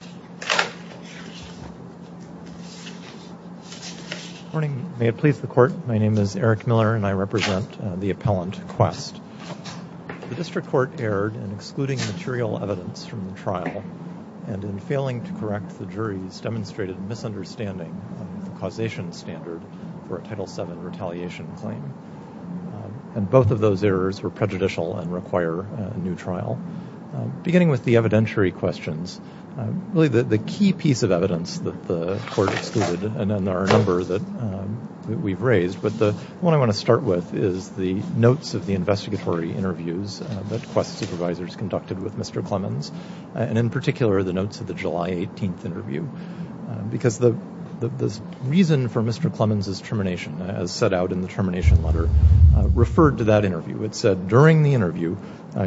Good morning. May it please the Court, my name is Eric Miller and I represent the appellant Qwest. The District Court erred in excluding material evidence from the trial and in failing to correct the jury's demonstrated misunderstanding of the causation standard for a Title VII retaliation claim. Both of those errors were prejudicial and require a new trial. Beginning with the evidentiary questions, really the key piece of evidence that the Court excluded and our number that we've raised, but the one I want to start with is the notes of the investigatory interviews that Qwest supervisors conducted with Mr. Clemens, and in particular the notes of the July 18th interview. Because the reason for Mr. Clemens' termination, as set out in the termination letter, referred to that interview. It said, during the interview,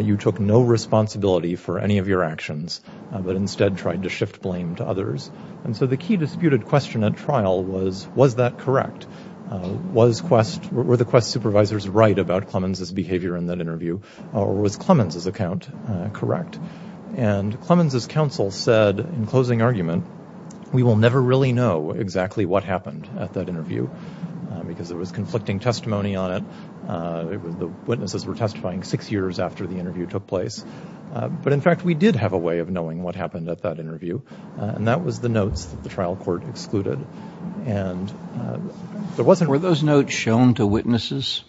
you took no responsibility for any of your actions, but instead tried to shift blame to others. And so the key disputed question at trial was, was that correct? Were the Qwest supervisors right about Clemens' behavior in that interview, or was Clemens' account correct? And Clemens' counsel said, in closing argument, we will never really know exactly what happened at that interview, because there was conflicting testimony on it. The witnesses were testifying six years after the interview took place. But in fact, we did have a way of knowing what happened at that interview, and that was the notes that the trial court excluded. And there wasn't... Were those notes shown to witnesses?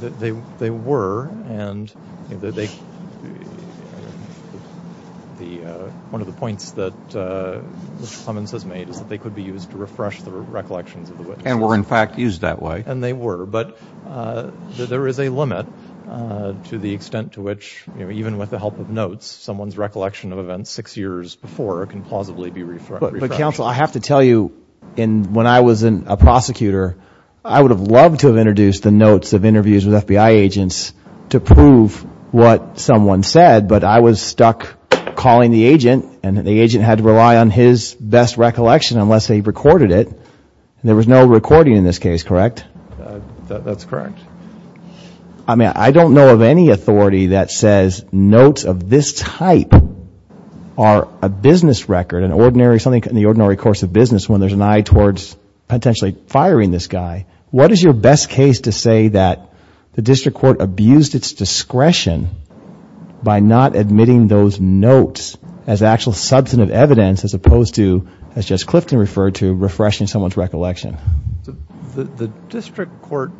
They were, and one of the points that Mr. Clemens has made is that they could be used to refresh the recollections of the witnesses. And were in fact used that way. And they were, but there is a limit to the extent to which, even with the help of notes, someone's recollection of events six years before can plausibly be refreshed. But counsel, I have to tell you, when I was a prosecutor, I would have loved to have introduced the notes of interviews with FBI agents to prove what someone said, but I was stuck calling the agent, and the agent had to rely on his best recollection unless they recorded it. There was no recording in this case, correct? That's correct. I mean, I don't know of any authority that says notes of this type are a business record, an ordinary, something in the ordinary course of business, when there's an eye towards potentially firing this guy. What is your best case to say that the district court abused its discretion by not admitting those notes as actual substantive evidence, as opposed to, as Judge Clifton referred to, refreshing someone's recollection? The district court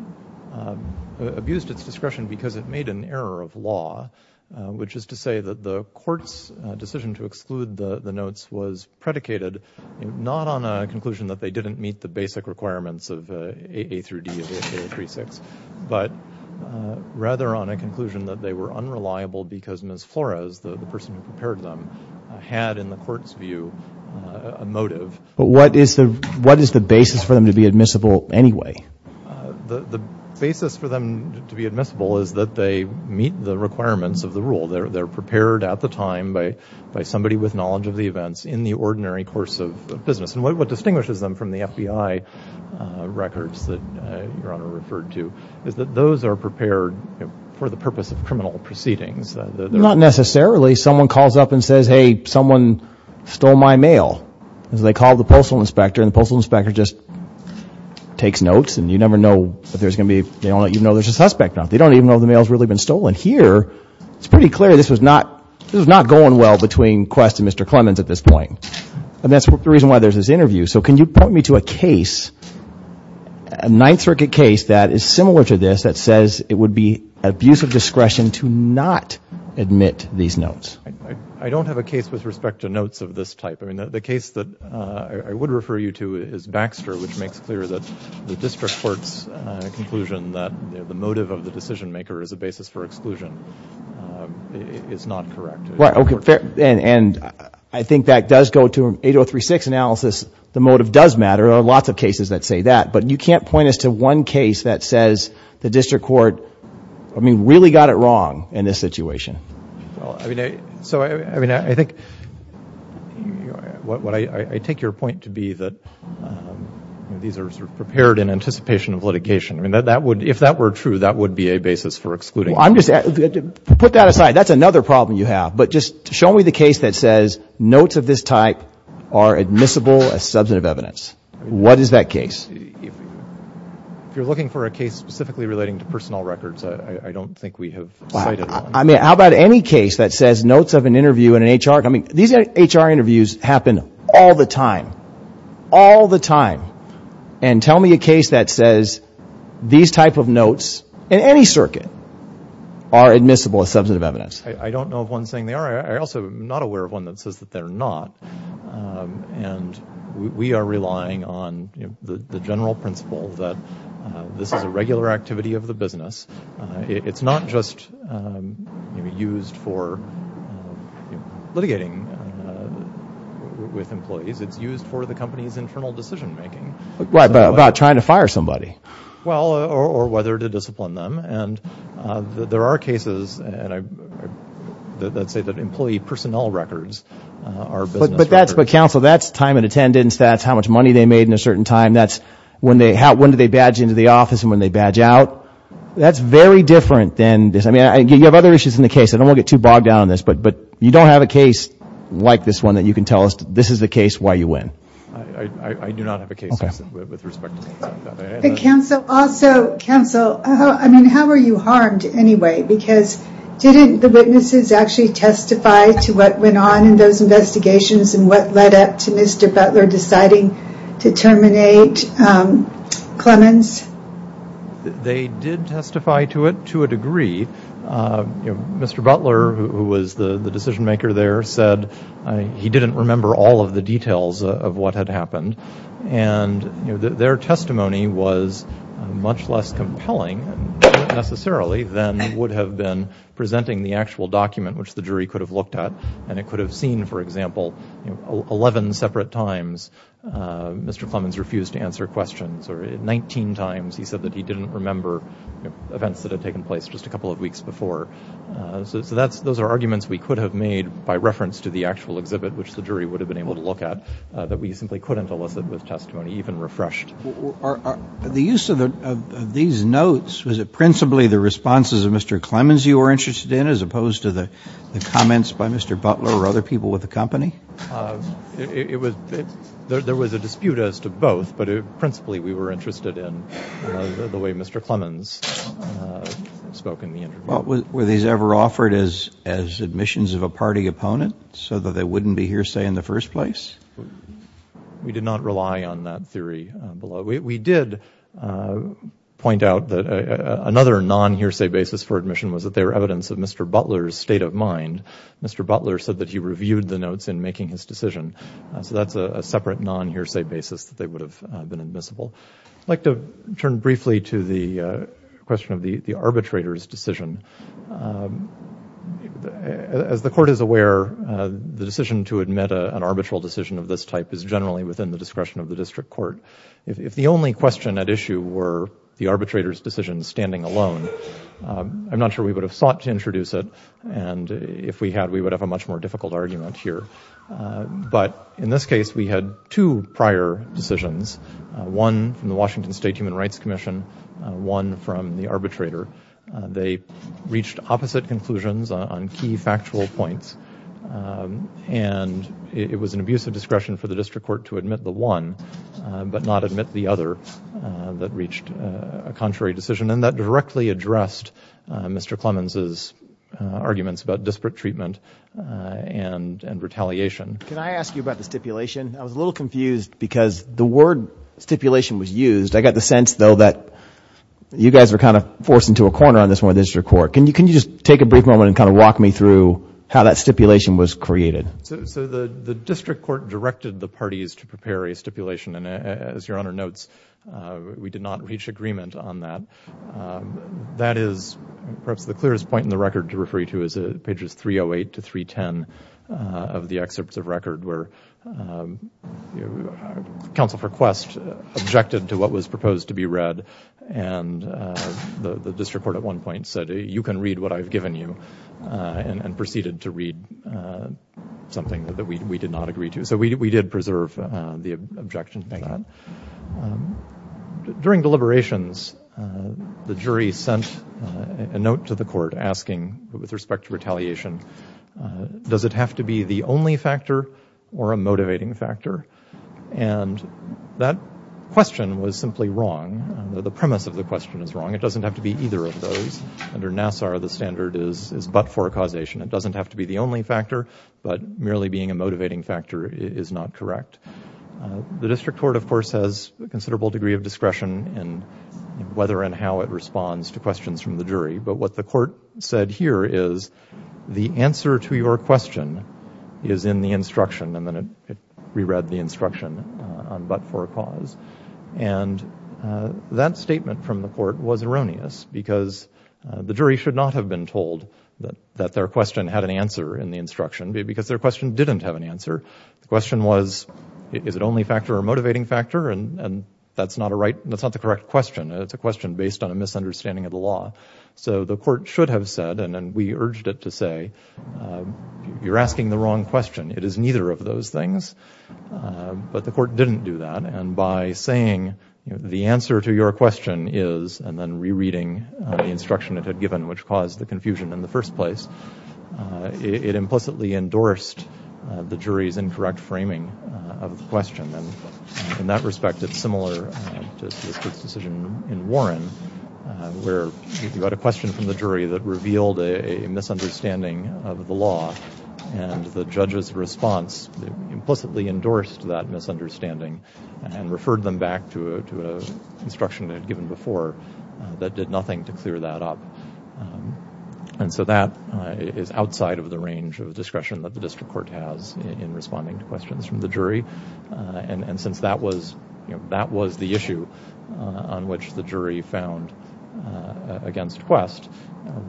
abused its discretion because it made an error of law, which is to say that the court's decision to exclude the notes was predicated not on a conclusion that they didn't meet the basic requirements of A through D of A036, but rather on a conclusion that they were unreliable because Ms. Flores, the person who prepared them, had in the court's view a motive. But what is the basis for them to be admissible anyway? The basis for them to be admissible is that they meet the requirements of the rule. They're prepared at the time by somebody with knowledge of the events in the ordinary course of business. What distinguishes them from the FBI records that Your Honor referred to is that those are prepared for the purpose of criminal proceedings. Not necessarily. Someone calls up and says, hey, someone stole my mail. They call the postal inspector and the postal inspector just takes notes and you never know if there's going to be, you don't even know if there's a suspect. They don't even know if the mail has really been stolen. Here, it's pretty clear this was not going well between Quest and Mr. Clemens at this point. And that's the reason why there's this interview. So can you point me to a case, a Ninth Circuit case that is similar to this, that says it would be abuse of discretion to not admit these notes? I don't have a case with respect to notes of this type. The case that I would refer you to is Baxter, which makes clear that the district court's conclusion that the motive of the decision maker is a basis for exclusion is not correct. And I think that does go to 8036 analysis. The motive does matter. There are lots of I mean, really got it wrong in this situation. Well, I mean, so I mean, I think what I take your point to be that these are prepared in anticipation of litigation. I mean, that would, if that were true, that would be a basis for excluding. I'm just, put that aside. That's another problem you have. But just show me the case that says notes of this type are admissible as substantive evidence. What is that case? If you're looking for a case specifically relating to personnel records, I don't think we have cited one. I mean, how about any case that says notes of an interview in an HR, I mean, these HR interviews happen all the time, all the time. And tell me a case that says these type of notes in any circuit are admissible as substantive evidence. I don't know of one saying they are. I'm also not aware of one that says that they're not. And we are relying on the general principle that this is a regular activity of the business. It's not just used for litigating with employees. It's used for the company's internal decision making. Right, about trying to fire somebody. Well, or whether to discipline them. And there are cases that say that employee personnel records are business records. But counsel, that's time and attendance, that's how much money they made in a certain time, that's when do they badge into the office and when do they badge out. That's very different than this. I mean, you have other issues in the case. I don't want to get too bogged down on this, but you don't have a case like this one that you can tell us this is the case why you win. I do not have a case like this with respect to things like that. But counsel, also, counsel, I mean, how are you harmed anyway? Because didn't the witnesses actually testify to what went on in those investigations and what led up to Mr. Butler deciding to terminate Clemens? They did testify to it, to a degree. Mr. Butler, who was the decision maker there, said he didn't remember all of the details of what had happened. And their testimony was much less compelling, necessarily, than would have been presenting the actual document, which the jury could have looked at, and it could have seen, for example, 11 separate times Mr. Clemens refused to answer questions, or 19 times he said that he didn't remember events that had taken place just a couple of weeks before. So that's, those are arguments we could have made by reference to the actual exhibit, which the jury would have been able to look at, that we simply couldn't elicit with testimony, even refreshed. The use of these notes, was it principally the responses of Mr. Clemens you were interested in, as opposed to the comments by Mr. Butler or other people with the company? It was, there was a dispute as to both, but principally we were interested in the way Mr. Clemens spoke in the interview. Were these ever offered as admissions of a party opponent, so that they wouldn't be hearsay in the first place? We did not rely on that theory below. We did point out that another non-hearsay basis for admission was that they were evidence of Mr. Butler's state of mind. Mr. Butler said that he reviewed the notes in making his decision, so that's a separate non-hearsay basis that they would have been admissible. I'd like to turn briefly to the question of the arbitrator's decision. As the Court is of this type, it is generally within the discretion of the District Court. If the only question at issue were the arbitrator's decision standing alone, I'm not sure we would have sought to introduce it, and if we had, we would have a much more difficult argument here. But in this case, we had two prior decisions, one from the Washington State Human Rights Commission, one from the arbitrator. They reached opposite conclusions on key factual points, and it was an abuse of discretion for the District Court to admit the one, but not admit the other that reached a contrary decision, and that directly addressed Mr. Clemens' arguments about disparate treatment and retaliation. Can I ask you about the stipulation? I was a little confused because the word stipulation was used. I got the sense, though, that you guys were kind of forced into a corner on Can you just take a brief moment and kind of walk me through how that stipulation was created? So the District Court directed the parties to prepare a stipulation, and as Your Honor notes, we did not reach agreement on that. That is perhaps the clearest point in the record to refer you to is pages 308 to 310 of the excerpts of record where counsel for said, you can read what I've given you, and proceeded to read something that we did not agree to. So we did preserve the objection to that. During deliberations, the jury sent a note to the court asking, with respect to retaliation, does it have to be the only factor or a motivating factor? And that question was simply wrong. The premise of the question is wrong. It doesn't have to be either of those. Under NASSAR, the standard is but-for causation. It doesn't have to be the only factor, but merely being a motivating factor is not correct. The District Court, of course, has a considerable degree of discretion in whether and how it responds to questions from the jury. But what the court said here is, the answer to your question, that statement from the court was erroneous because the jury should not have been told that their question had an answer in the instruction because their question didn't have an answer. The question was, is it only a factor or a motivating factor? And that's not the correct question. It's a question based on a misunderstanding of the law. So the court should have said, and we urged it to say, you're asking the wrong question. It is neither of those things. But the court didn't do that. And by saying the answer to your question is, and then rereading the instruction it had given, which caused the confusion in the first place, it implicitly endorsed the jury's incorrect framing of the question. And in that respect, it's similar to the District's decision in Warren, where you got a question from the jury that revealed a misunderstanding of the law. And the judge's response implicitly before that did nothing to clear that up. And so that is outside of the range of discretion that the District Court has in responding to questions from the jury. And since that was, you know, that was the issue on which the jury found against Quest,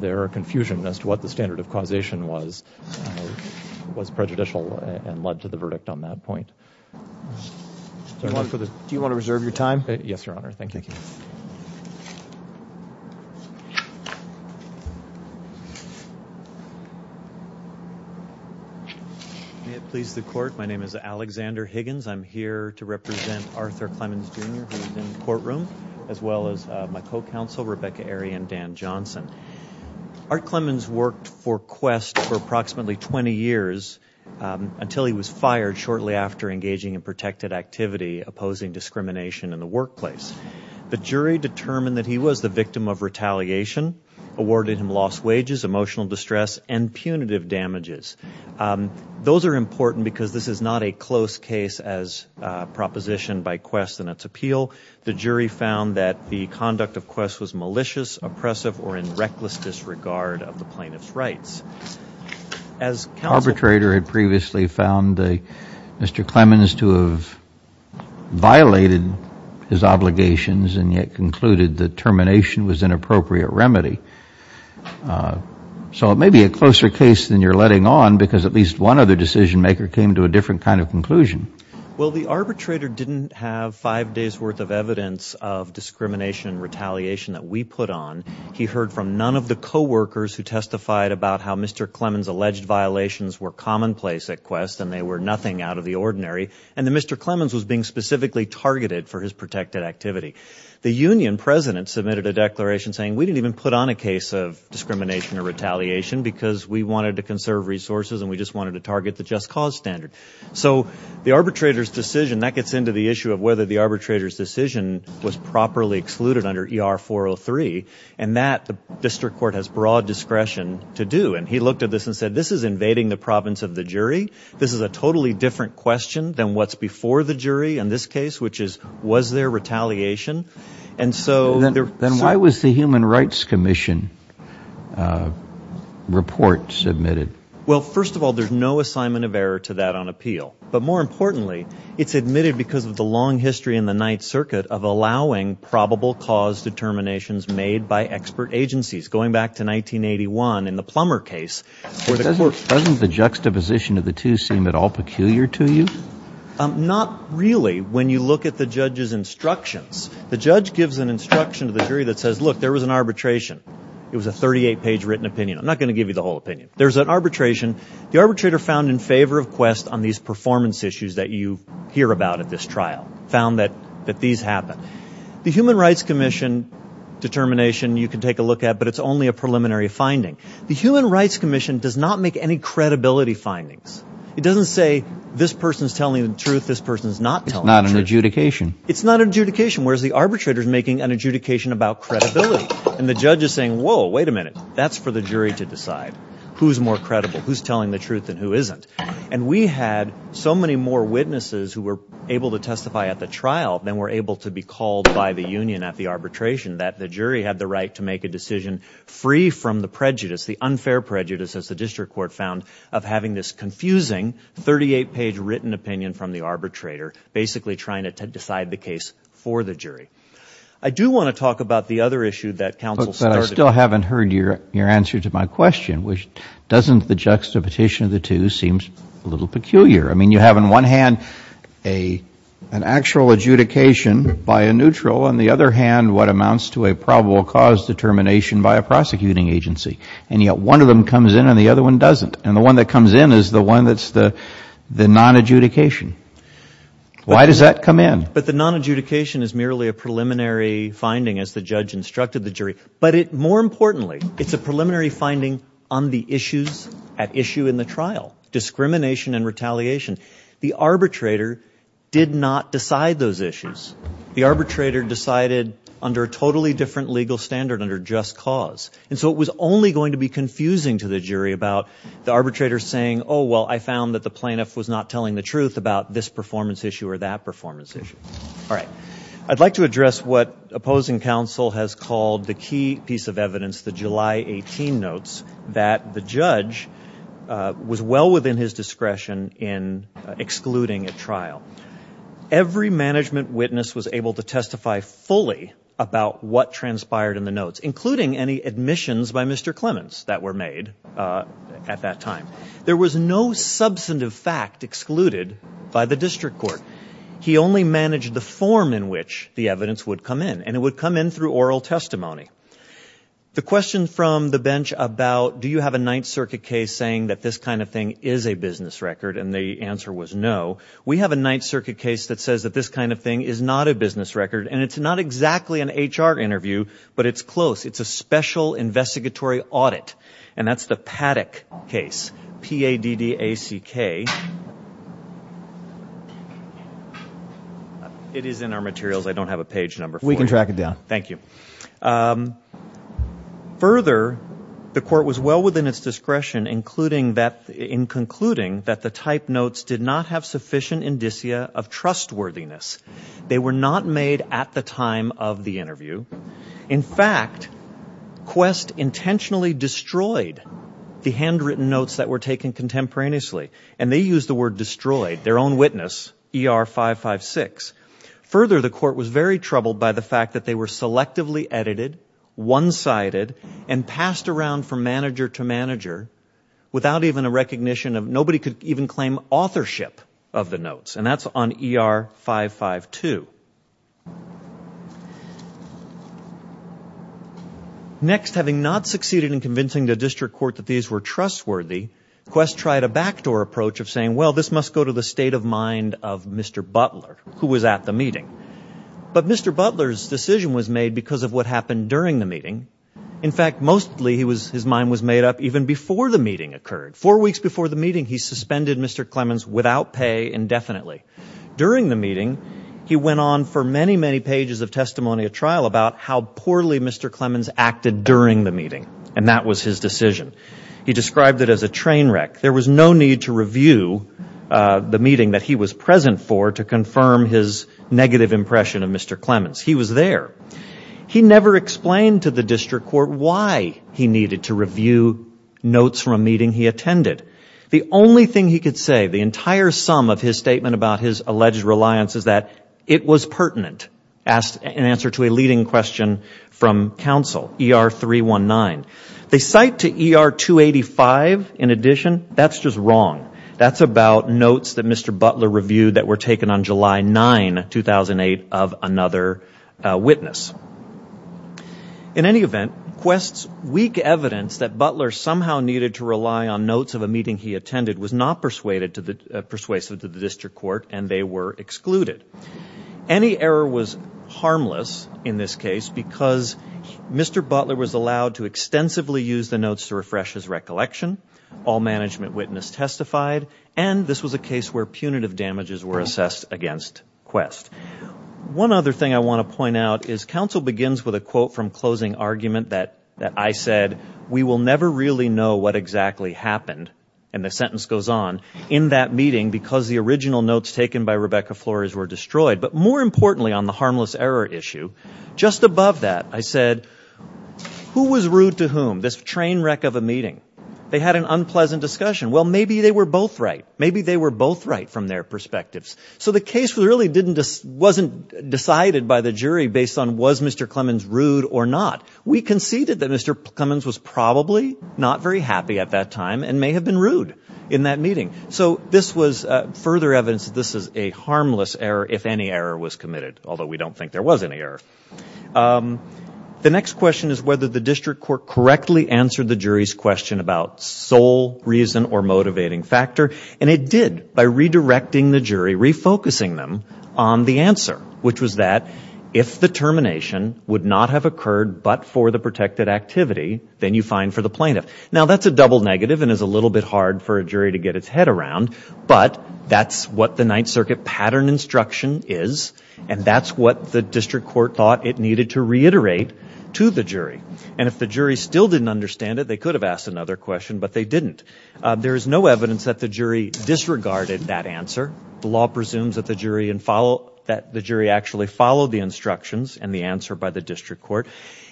their confusion as to what the standard of causation was, was prejudicial and led to the verdict on that point. Do you want to reserve your time? Yes, Your Honor. Thank you. May it please the court, my name is Alexander Higgins. I'm here to represent Arthur Clemens, Jr., who is in the courtroom, as well as my co-counsel, Rebecca Arie and Dan Johnson. Art Clemens worked for Quest for approximately 20 years until he was fired shortly after engaging in protected activity, opposing discrimination in the workplace. The jury determined that he was the victim of retaliation, awarded him lost wages, emotional distress, and punitive damages. Those are important because this is not a close case as propositioned by Quest and its appeal. The jury found that the conduct of Quest was malicious, oppressive, or in reckless disregard of the plaintiff's rights. The arbitrator had previously found Mr. Clemens to have violated his obligations and yet concluded that termination was an appropriate remedy. So it may be a closer case than you're letting on because at least one other decision maker came to a different kind of conclusion. Well, the arbitrator didn't have five days' worth of evidence of discrimination and retaliation that we put on. He heard from none of the co-workers who testified about how Mr. Clemens' alleged violations were commonplace at Quest and they were nothing out of the ordinary. And that Mr. Clemens was being specifically targeted for his protected activity. The union president submitted a declaration saying we didn't even put on a case of discrimination or retaliation because we wanted to conserve resources and we just wanted to target the just cause standard. So the arbitrator's decision, that gets into the issue of whether the arbitrator's decision was properly excluded under ER 403 and that the district court has broad discretion to do. And he looked at this and said this is invading the province of the jury. This is a totally different question than what's before the jury in this case, which is was there retaliation? And so... Then why was the Human Rights Commission report submitted? Well, first of all, there's no assignment of error to that on appeal. But more importantly, it's admitted because of the long history in the Ninth Circuit of allowing probable cause determinations made by expert agencies going back to 1981 in the Plummer case. Doesn't the juxtaposition of the two seem at all peculiar to you? Not really. When you look at the judge's instructions, the judge gives an instruction to the jury that says, look, there was an arbitration. It was a 38 page written opinion. I'm not going to give you the whole opinion. There's an arbitration. The arbitrator found in favor of quest on these performance issues that you hear about at this trial, found that these happen. The Human Rights Commission determination you can take a look at, but it's only a preliminary finding. The Human Rights Commission does not make any credibility findings. It doesn't say this person is telling the truth. This person is not telling the truth. It's not an adjudication. It's not an adjudication, whereas the arbitrator is making an adjudication about credibility. And the judge is saying, whoa, wait a minute. That's for the jury to decide who's more credible, who's telling the truth and who isn't. And we had so many more witnesses who were able to testify at the trial than were able to be called by the union at the arbitration that the jury had the right to make a decision free from the prejudice, the unfair prejudice, as the district court found, of having this confusing 38 page written opinion from the arbitrator, I do want to talk about the other issue that counsel started. But I still haven't heard your answer to my question, which doesn't the juxtaposition of the two seems a little peculiar. I mean, you have in one hand a an actual adjudication by a neutral. On the other hand, what amounts to a probable cause determination by a prosecuting agency. And yet one of them comes in and the other one doesn't. And the one that comes in is the one that's the the non adjudication. Why does that come in? But the non adjudication is merely a preliminary finding as the judge instructed the jury. But it more importantly, it's a preliminary finding on the issues at issue in the trial, discrimination and retaliation. The arbitrator did not decide those issues. The arbitrator decided under a totally different legal standard under just cause. And so it was only going to be confusing to the jury about the arbitrator saying, oh, well, I found that the plaintiff was not telling the truth about this performance issue or that performance issue. All right. I'd like to address what opposing counsel has called the key piece of evidence. The July 18 notes that the judge was well within his discretion in excluding a trial. Every management witness was able to testify fully about what transpired in the notes, including any admissions by Mr. Clements that were made at that time. There was no substantive fact excluded by the district court. He only managed the form in which the evidence would come in and it would come in through oral testimony. The question from the bench about do you have a Ninth Circuit case saying that this kind of thing is a business record? And the answer was no. We have a Ninth Circuit case that says that this kind of thing is not a business record. And it's not exactly an H.R. interview, but it's close. It's a special investigatory audit. And that's the Paddock case. P-A-D-D-A-C-K. It is in our materials. I don't have a page number. We can track it down. Thank you. Further, the court was well within its discretion, including that in concluding that the type notes did not have sufficient indicia of trustworthiness. They were not made at the time of the interview. In fact, Quest intentionally destroyed the handwritten notes that were taken contemporaneously. And they used the word destroyed, their own witness, E.R. 556. Further, the court was very troubled by the fact that they were selectively edited, one-sided, and passed around from manager to manager without even a recognition of nobody could even claim authorship of the notes. And that's on E.R. 552. Next, having not succeeded in convincing the district court that these were trustworthy, Quest tried a backdoor approach of saying, well, this must go to the state of mind of Mr. Butler, who was at the meeting. But Mr. Butler's decision was made because of what happened during the meeting. In fact, mostly his mind was made up even before the meeting occurred. Four weeks before the meeting, he suspended Mr. Clemens without pay indefinitely. During the meeting, he went on for many, many pages of testimony at trial about how poorly Mr. Clemens acted during the meeting. And that was his decision. He described it as a train wreck. There was no need to review the meeting that he was present for to confirm his negative impression of Mr. Clemens. He was there. He never explained to the district court why he needed to review notes from a meeting he attended. The only thing he could say, the entire sum of his statement about his alleged reliance, is that it was pertinent, in answer to a leading question from counsel, E.R. 319. They cite to E.R. 285, in addition, that's just wrong. That's about notes that Mr. Butler reviewed that were taken on July 9, 2008, of another witness. In any event, Quest's weak evidence that Butler somehow needed to rely on notes of a meeting he attended was not persuasive to the district court, and they were excluded. Any error was harmless in this case because Mr. Butler was allowed to extensively use the notes to refresh his recollection. All management witness testified, and this was a case where punitive damages were assessed against Quest. One other thing I want to point out is counsel begins with a quote from closing argument that I said, we will never really know what exactly happened, and the sentence goes on, in that meeting because the original notes taken by Rebecca Flores were destroyed. But more importantly, on the harmless error issue, just above that, I said, who was rude to whom? This train wreck of a meeting. They had an unpleasant discussion. Well, maybe they were both right. Maybe they were both right from their perspectives. So the case really wasn't decided by the jury based on was Mr. Clemens rude or not. We conceded that Mr. Clemens was probably not very happy at that time and may have been rude in that meeting. So this was further evidence that this is a harmless error if any error was committed, although we don't think there was any error. The next question is whether the district court correctly answered the jury's question about sole reason or motivating factor, and it did by redirecting the jury, refocusing them on the answer, which was that if the termination would not have occurred but for the protected activity, then you find for the plaintiff. Now, that's a double negative and is a little bit hard for a jury to get its head around, but that's what the Ninth Circuit pattern instruction is, and that's what the district court thought it needed to reiterate to the jury. And if the jury still didn't understand it, they could have asked another question, but they didn't. There is no evidence that the jury disregarded that answer. The law presumes that the jury actually followed the instructions and the answer by the district court.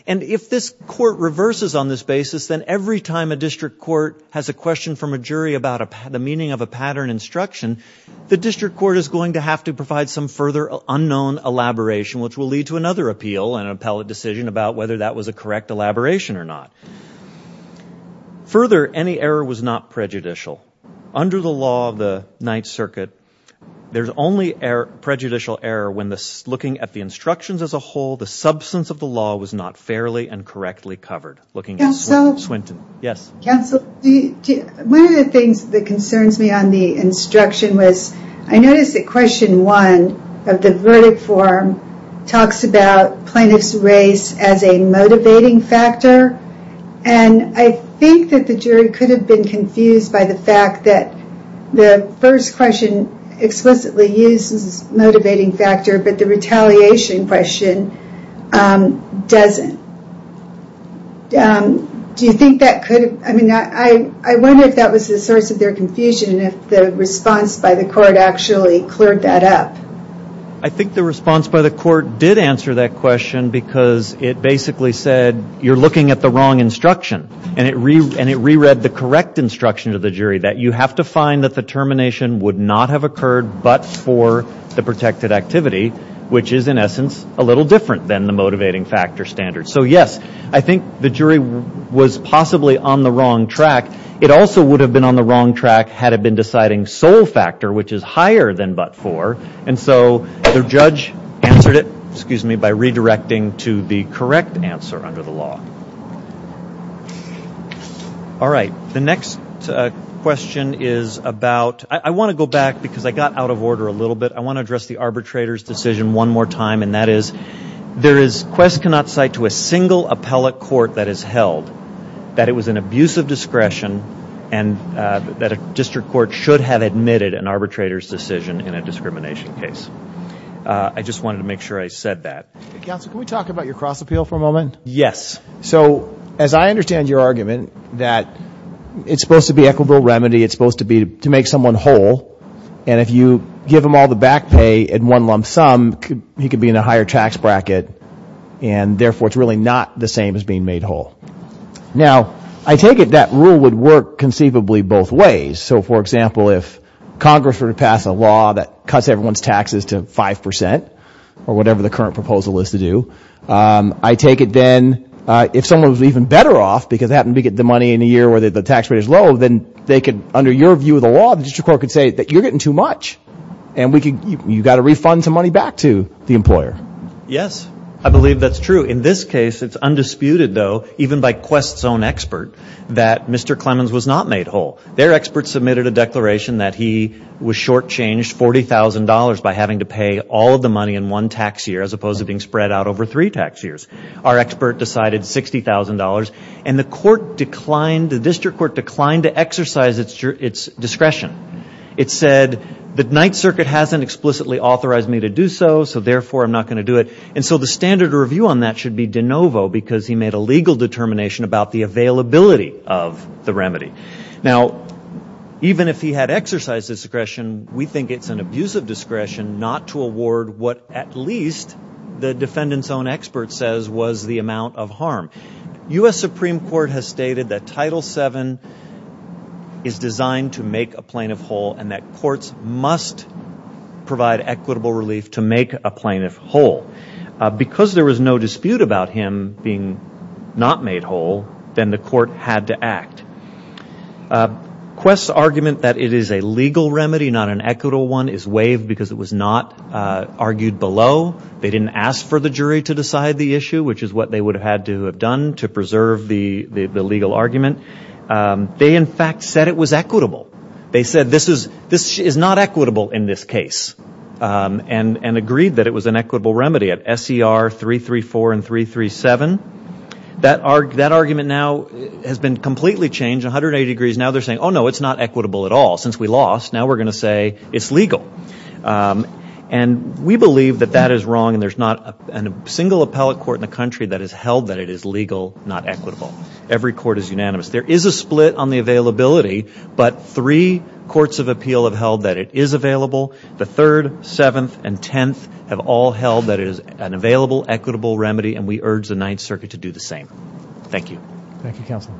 And if this court reverses on this basis, then every time a district court has a question from a jury about the meaning of a pattern instruction, the district court is going to have to provide some further unknown elaboration, which will lead to another appeal and an appellate decision about whether that was a correct elaboration or not. Further, any error was not prejudicial. Under the law of the Ninth Circuit, there's only prejudicial error when looking at the instructions as a whole. The substance of the law was not fairly and correctly covered. Counsel, one of the things that concerns me on the instruction was, I noticed that question one of the verdict form talks about plaintiff's race as a motivating factor, and I think that the jury could have been confused by the fact that the first question explicitly uses a motivating factor, but the retaliation question doesn't. Do you think that could have, I mean, I wonder if that was the source of their confusion, and if the response by the court actually cleared that up. I think the response by the court did answer that question, because it basically said, you're looking at the wrong instruction. And it reread the correct instruction to the jury, that you have to find that the termination would not have occurred but for the protected activity, which is, in essence, a little different than the motivating factor standard. So, yes, I think the jury was possibly on the wrong track. It also would have been on the wrong track had it been deciding sole factor, which is higher than but for. And so the judge answered it, excuse me, by redirecting to the correct answer under the law. All right. The next question is about, I want to go back because I got out of order a little bit. I want to address the arbitrator's decision one more time, and that is, there is quest cannot cite to a single appellate court that has held that it was an abuse of discretion and that a district court should have admitted an arbitrator's decision in a discrimination case. I just wanted to make sure I said that. Counsel, can we talk about your cross appeal for a moment? Yes. So as I understand your argument that it's supposed to be equitable remedy, it's supposed to be to make someone whole, and if you give him all the back pay at one lump sum, he could be in a higher tax bracket, and therefore it's really not the same as being made whole. Now, I take it that rule would work conceivably both ways. So, for example, if Congress were to pass a law that cuts everyone's taxes to 5% or whatever the current proposal is to do, I take it then if someone was even better off because they happen to get the money in a year where the tax rate is low, then they could, under your view of the law, the district court could say that you're getting too much, and you've got to refund some money back to the employer. Yes. I believe that's true. In this case, it's undisputed, though, even by quest's own expert, that Mr. Clemens was not made whole. Their expert submitted a declaration that he was shortchanged $40,000 by having to pay all of the money in one tax year as opposed to being spread out over three tax years. Our expert decided $60,000, and the court declined, the district court declined to exercise its discretion. It said the Ninth Circuit hasn't explicitly authorized me to do so, so therefore I'm not going to do it, and so the standard review on that should be de novo because he made a legal determination about the availability of the remedy. Now, even if he had exercised discretion, we think it's an abuse of discretion not to award what at least the defendant's own expert says was the amount of harm. U.S. Supreme Court has stated that Title VII is designed to make a plaintiff whole and that courts must provide equitable relief to make a plaintiff whole. Because there was no dispute about him being not made whole, then the court had to act. Quest's argument that it is a legal remedy, not an equitable one, is waived because it was not argued below. They didn't ask for the jury to decide the issue, which is what they would have had to have done to preserve the legal argument. They, in fact, said it was equitable. They said this is not equitable in this case and agreed that it was an equitable remedy. At SCR 334 and 337, that argument now has been completely changed 180 degrees. Now they're saying, oh, no, it's not equitable at all. Since we lost, now we're going to say it's legal. And we believe that that is wrong, and there's not a single appellate court in the country that has held that it is legal, not equitable. Every court is unanimous. There is a split on the availability, but three courts of appeal have held that it is available. The third, seventh, and tenth have all held that it is an available, equitable remedy, and we urge the Ninth Circuit to do the same. Thank you. Thank you, counsel.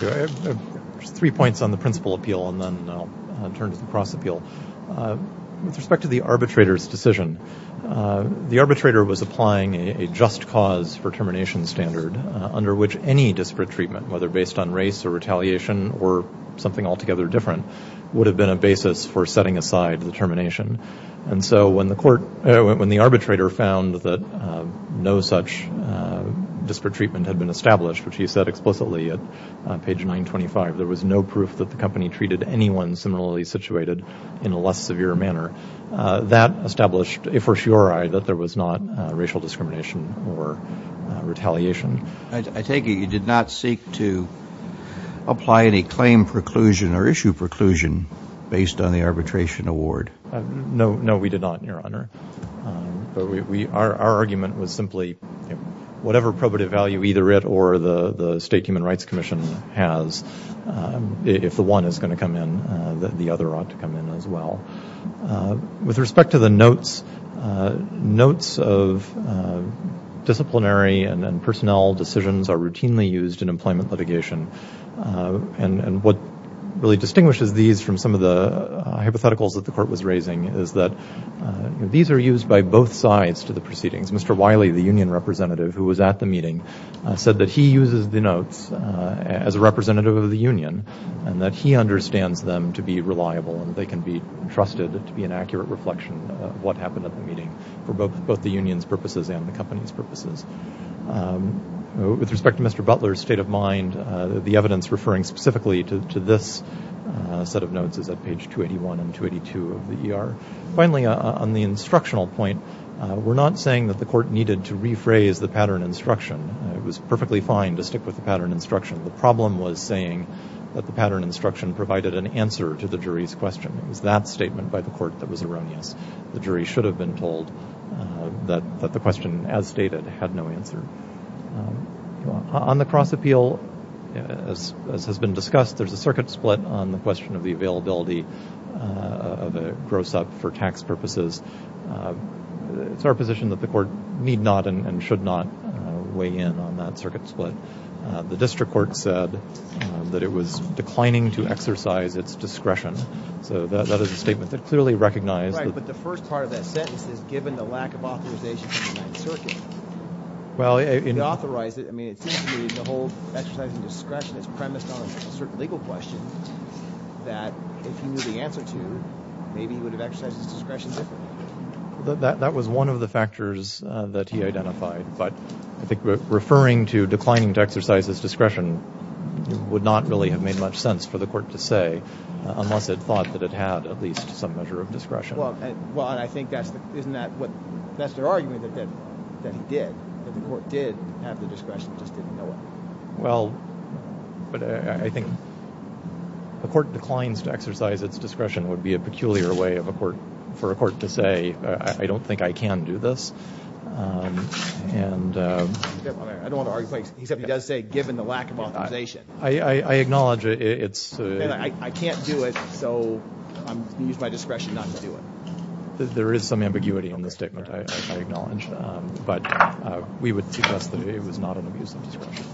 Three points on the principal appeal, and then I'll turn to the cross appeal. With respect to the arbitrator's decision, the arbitrator was applying a just cause for termination standard under which any disparate treatment, whether based on race or retaliation or something altogether different, would have been a basis for setting aside the termination. And so when the arbitrator found that no such disparate treatment had been established, which he said explicitly at page 925, there was no proof that the company treated anyone similarly situated in a less severe manner, that established, if for sure, that there was not racial discrimination or retaliation. I take it you did not seek to apply any claim preclusion or issue preclusion based on the arbitration award. No, we did not, Your Honor. Our argument was simply whatever probative value either it or the State Human Rights Commission has, if the one is going to come in, the other ought to come in as well. With respect to the notes, notes of disciplinary and personnel decisions are routinely used in employment litigation. And what really distinguishes these from some of the hypotheticals that the court was raising is that these are used by both sides to the proceedings. Mr. Wiley, the union representative who was at the meeting, said that he uses the notes as a representative of the union and that he understands them to be reliable and they can be trusted to be an accurate reflection of what happened at the meeting for both the union's purposes and the company's purposes. With respect to Mr. Butler's state of mind, the evidence referring specifically to this set of notes is at page 281 and 282 of the ER. Finally, on the instructional point, we're not saying that the court needed to rephrase the pattern instruction. It was perfectly fine to stick with the pattern instruction. The problem was saying that the pattern instruction provided an answer to the jury's question. It was that statement by the court that was erroneous. The jury should have been told that the question, as stated, had no answer. On the cross-appeal, as has been discussed, there's a circuit split on the question of the availability of a gross-up for tax purposes. It's our position that the court need not and should not weigh in on that circuit split. The district court said that it was declining to exercise its discretion. So that is a statement that clearly recognized that... Right, but the first part of that sentence is, given the lack of authorization from the Ninth Circuit to authorize it, I mean, it seems to me the whole exercise of discretion is premised on a certain legal question that if he knew the answer to, maybe he would have exercised his discretion differently. That was one of the factors that he identified, but I think referring to declining to exercise his discretion would not really have made much sense for the court to say, unless it thought that it had at least some measure of discretion. Well, I think that's their argument, that he did. The court did have the discretion, just didn't know it. Well, but I think the court declines to exercise its discretion would be a peculiar way for a court to say, I don't think I can do this. I don't want to argue, except he does say, given the lack of authorization. I acknowledge it's... I can't do it, so I'm going to use my discretion not to do it. There is some ambiguity in the statement, I acknowledge, but we would suggest that it was not an abuse of discretion.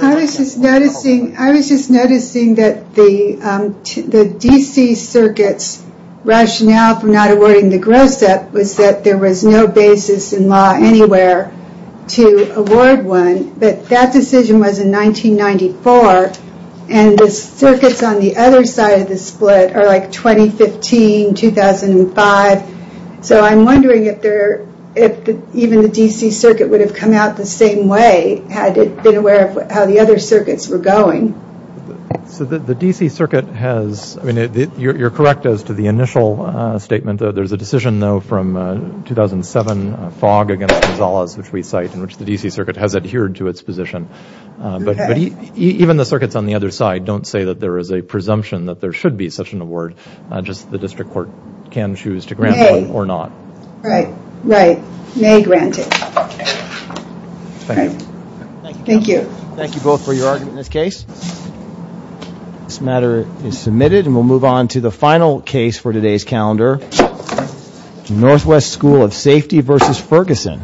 I was just noticing that the D.C. Circuit's rationale for not awarding the gross-up was that there was no basis in law anywhere to award one, but that decision was in 1994, and the circuits on the other side of the split are like 2015, 2005, so I'm wondering if even the D.C. Circuit would have come out the same way, had it been aware of how the other circuits were going. So the D.C. Circuit has... I mean, you're correct as to the initial statement, there's a decision, though, from 2007, Fogg against Gonzalez, which we cite, in which the D.C. Circuit has adhered to its position. But even the circuits on the other side don't say that there is a presumption that there should be such an award, just the district court can choose to grant one or not. Right, right. May grant it. Thank you. Thank you both for your argument in this case. This matter is submitted, and we'll move on to the final case for today's calendar, Northwest School of Safety v. Ferguson.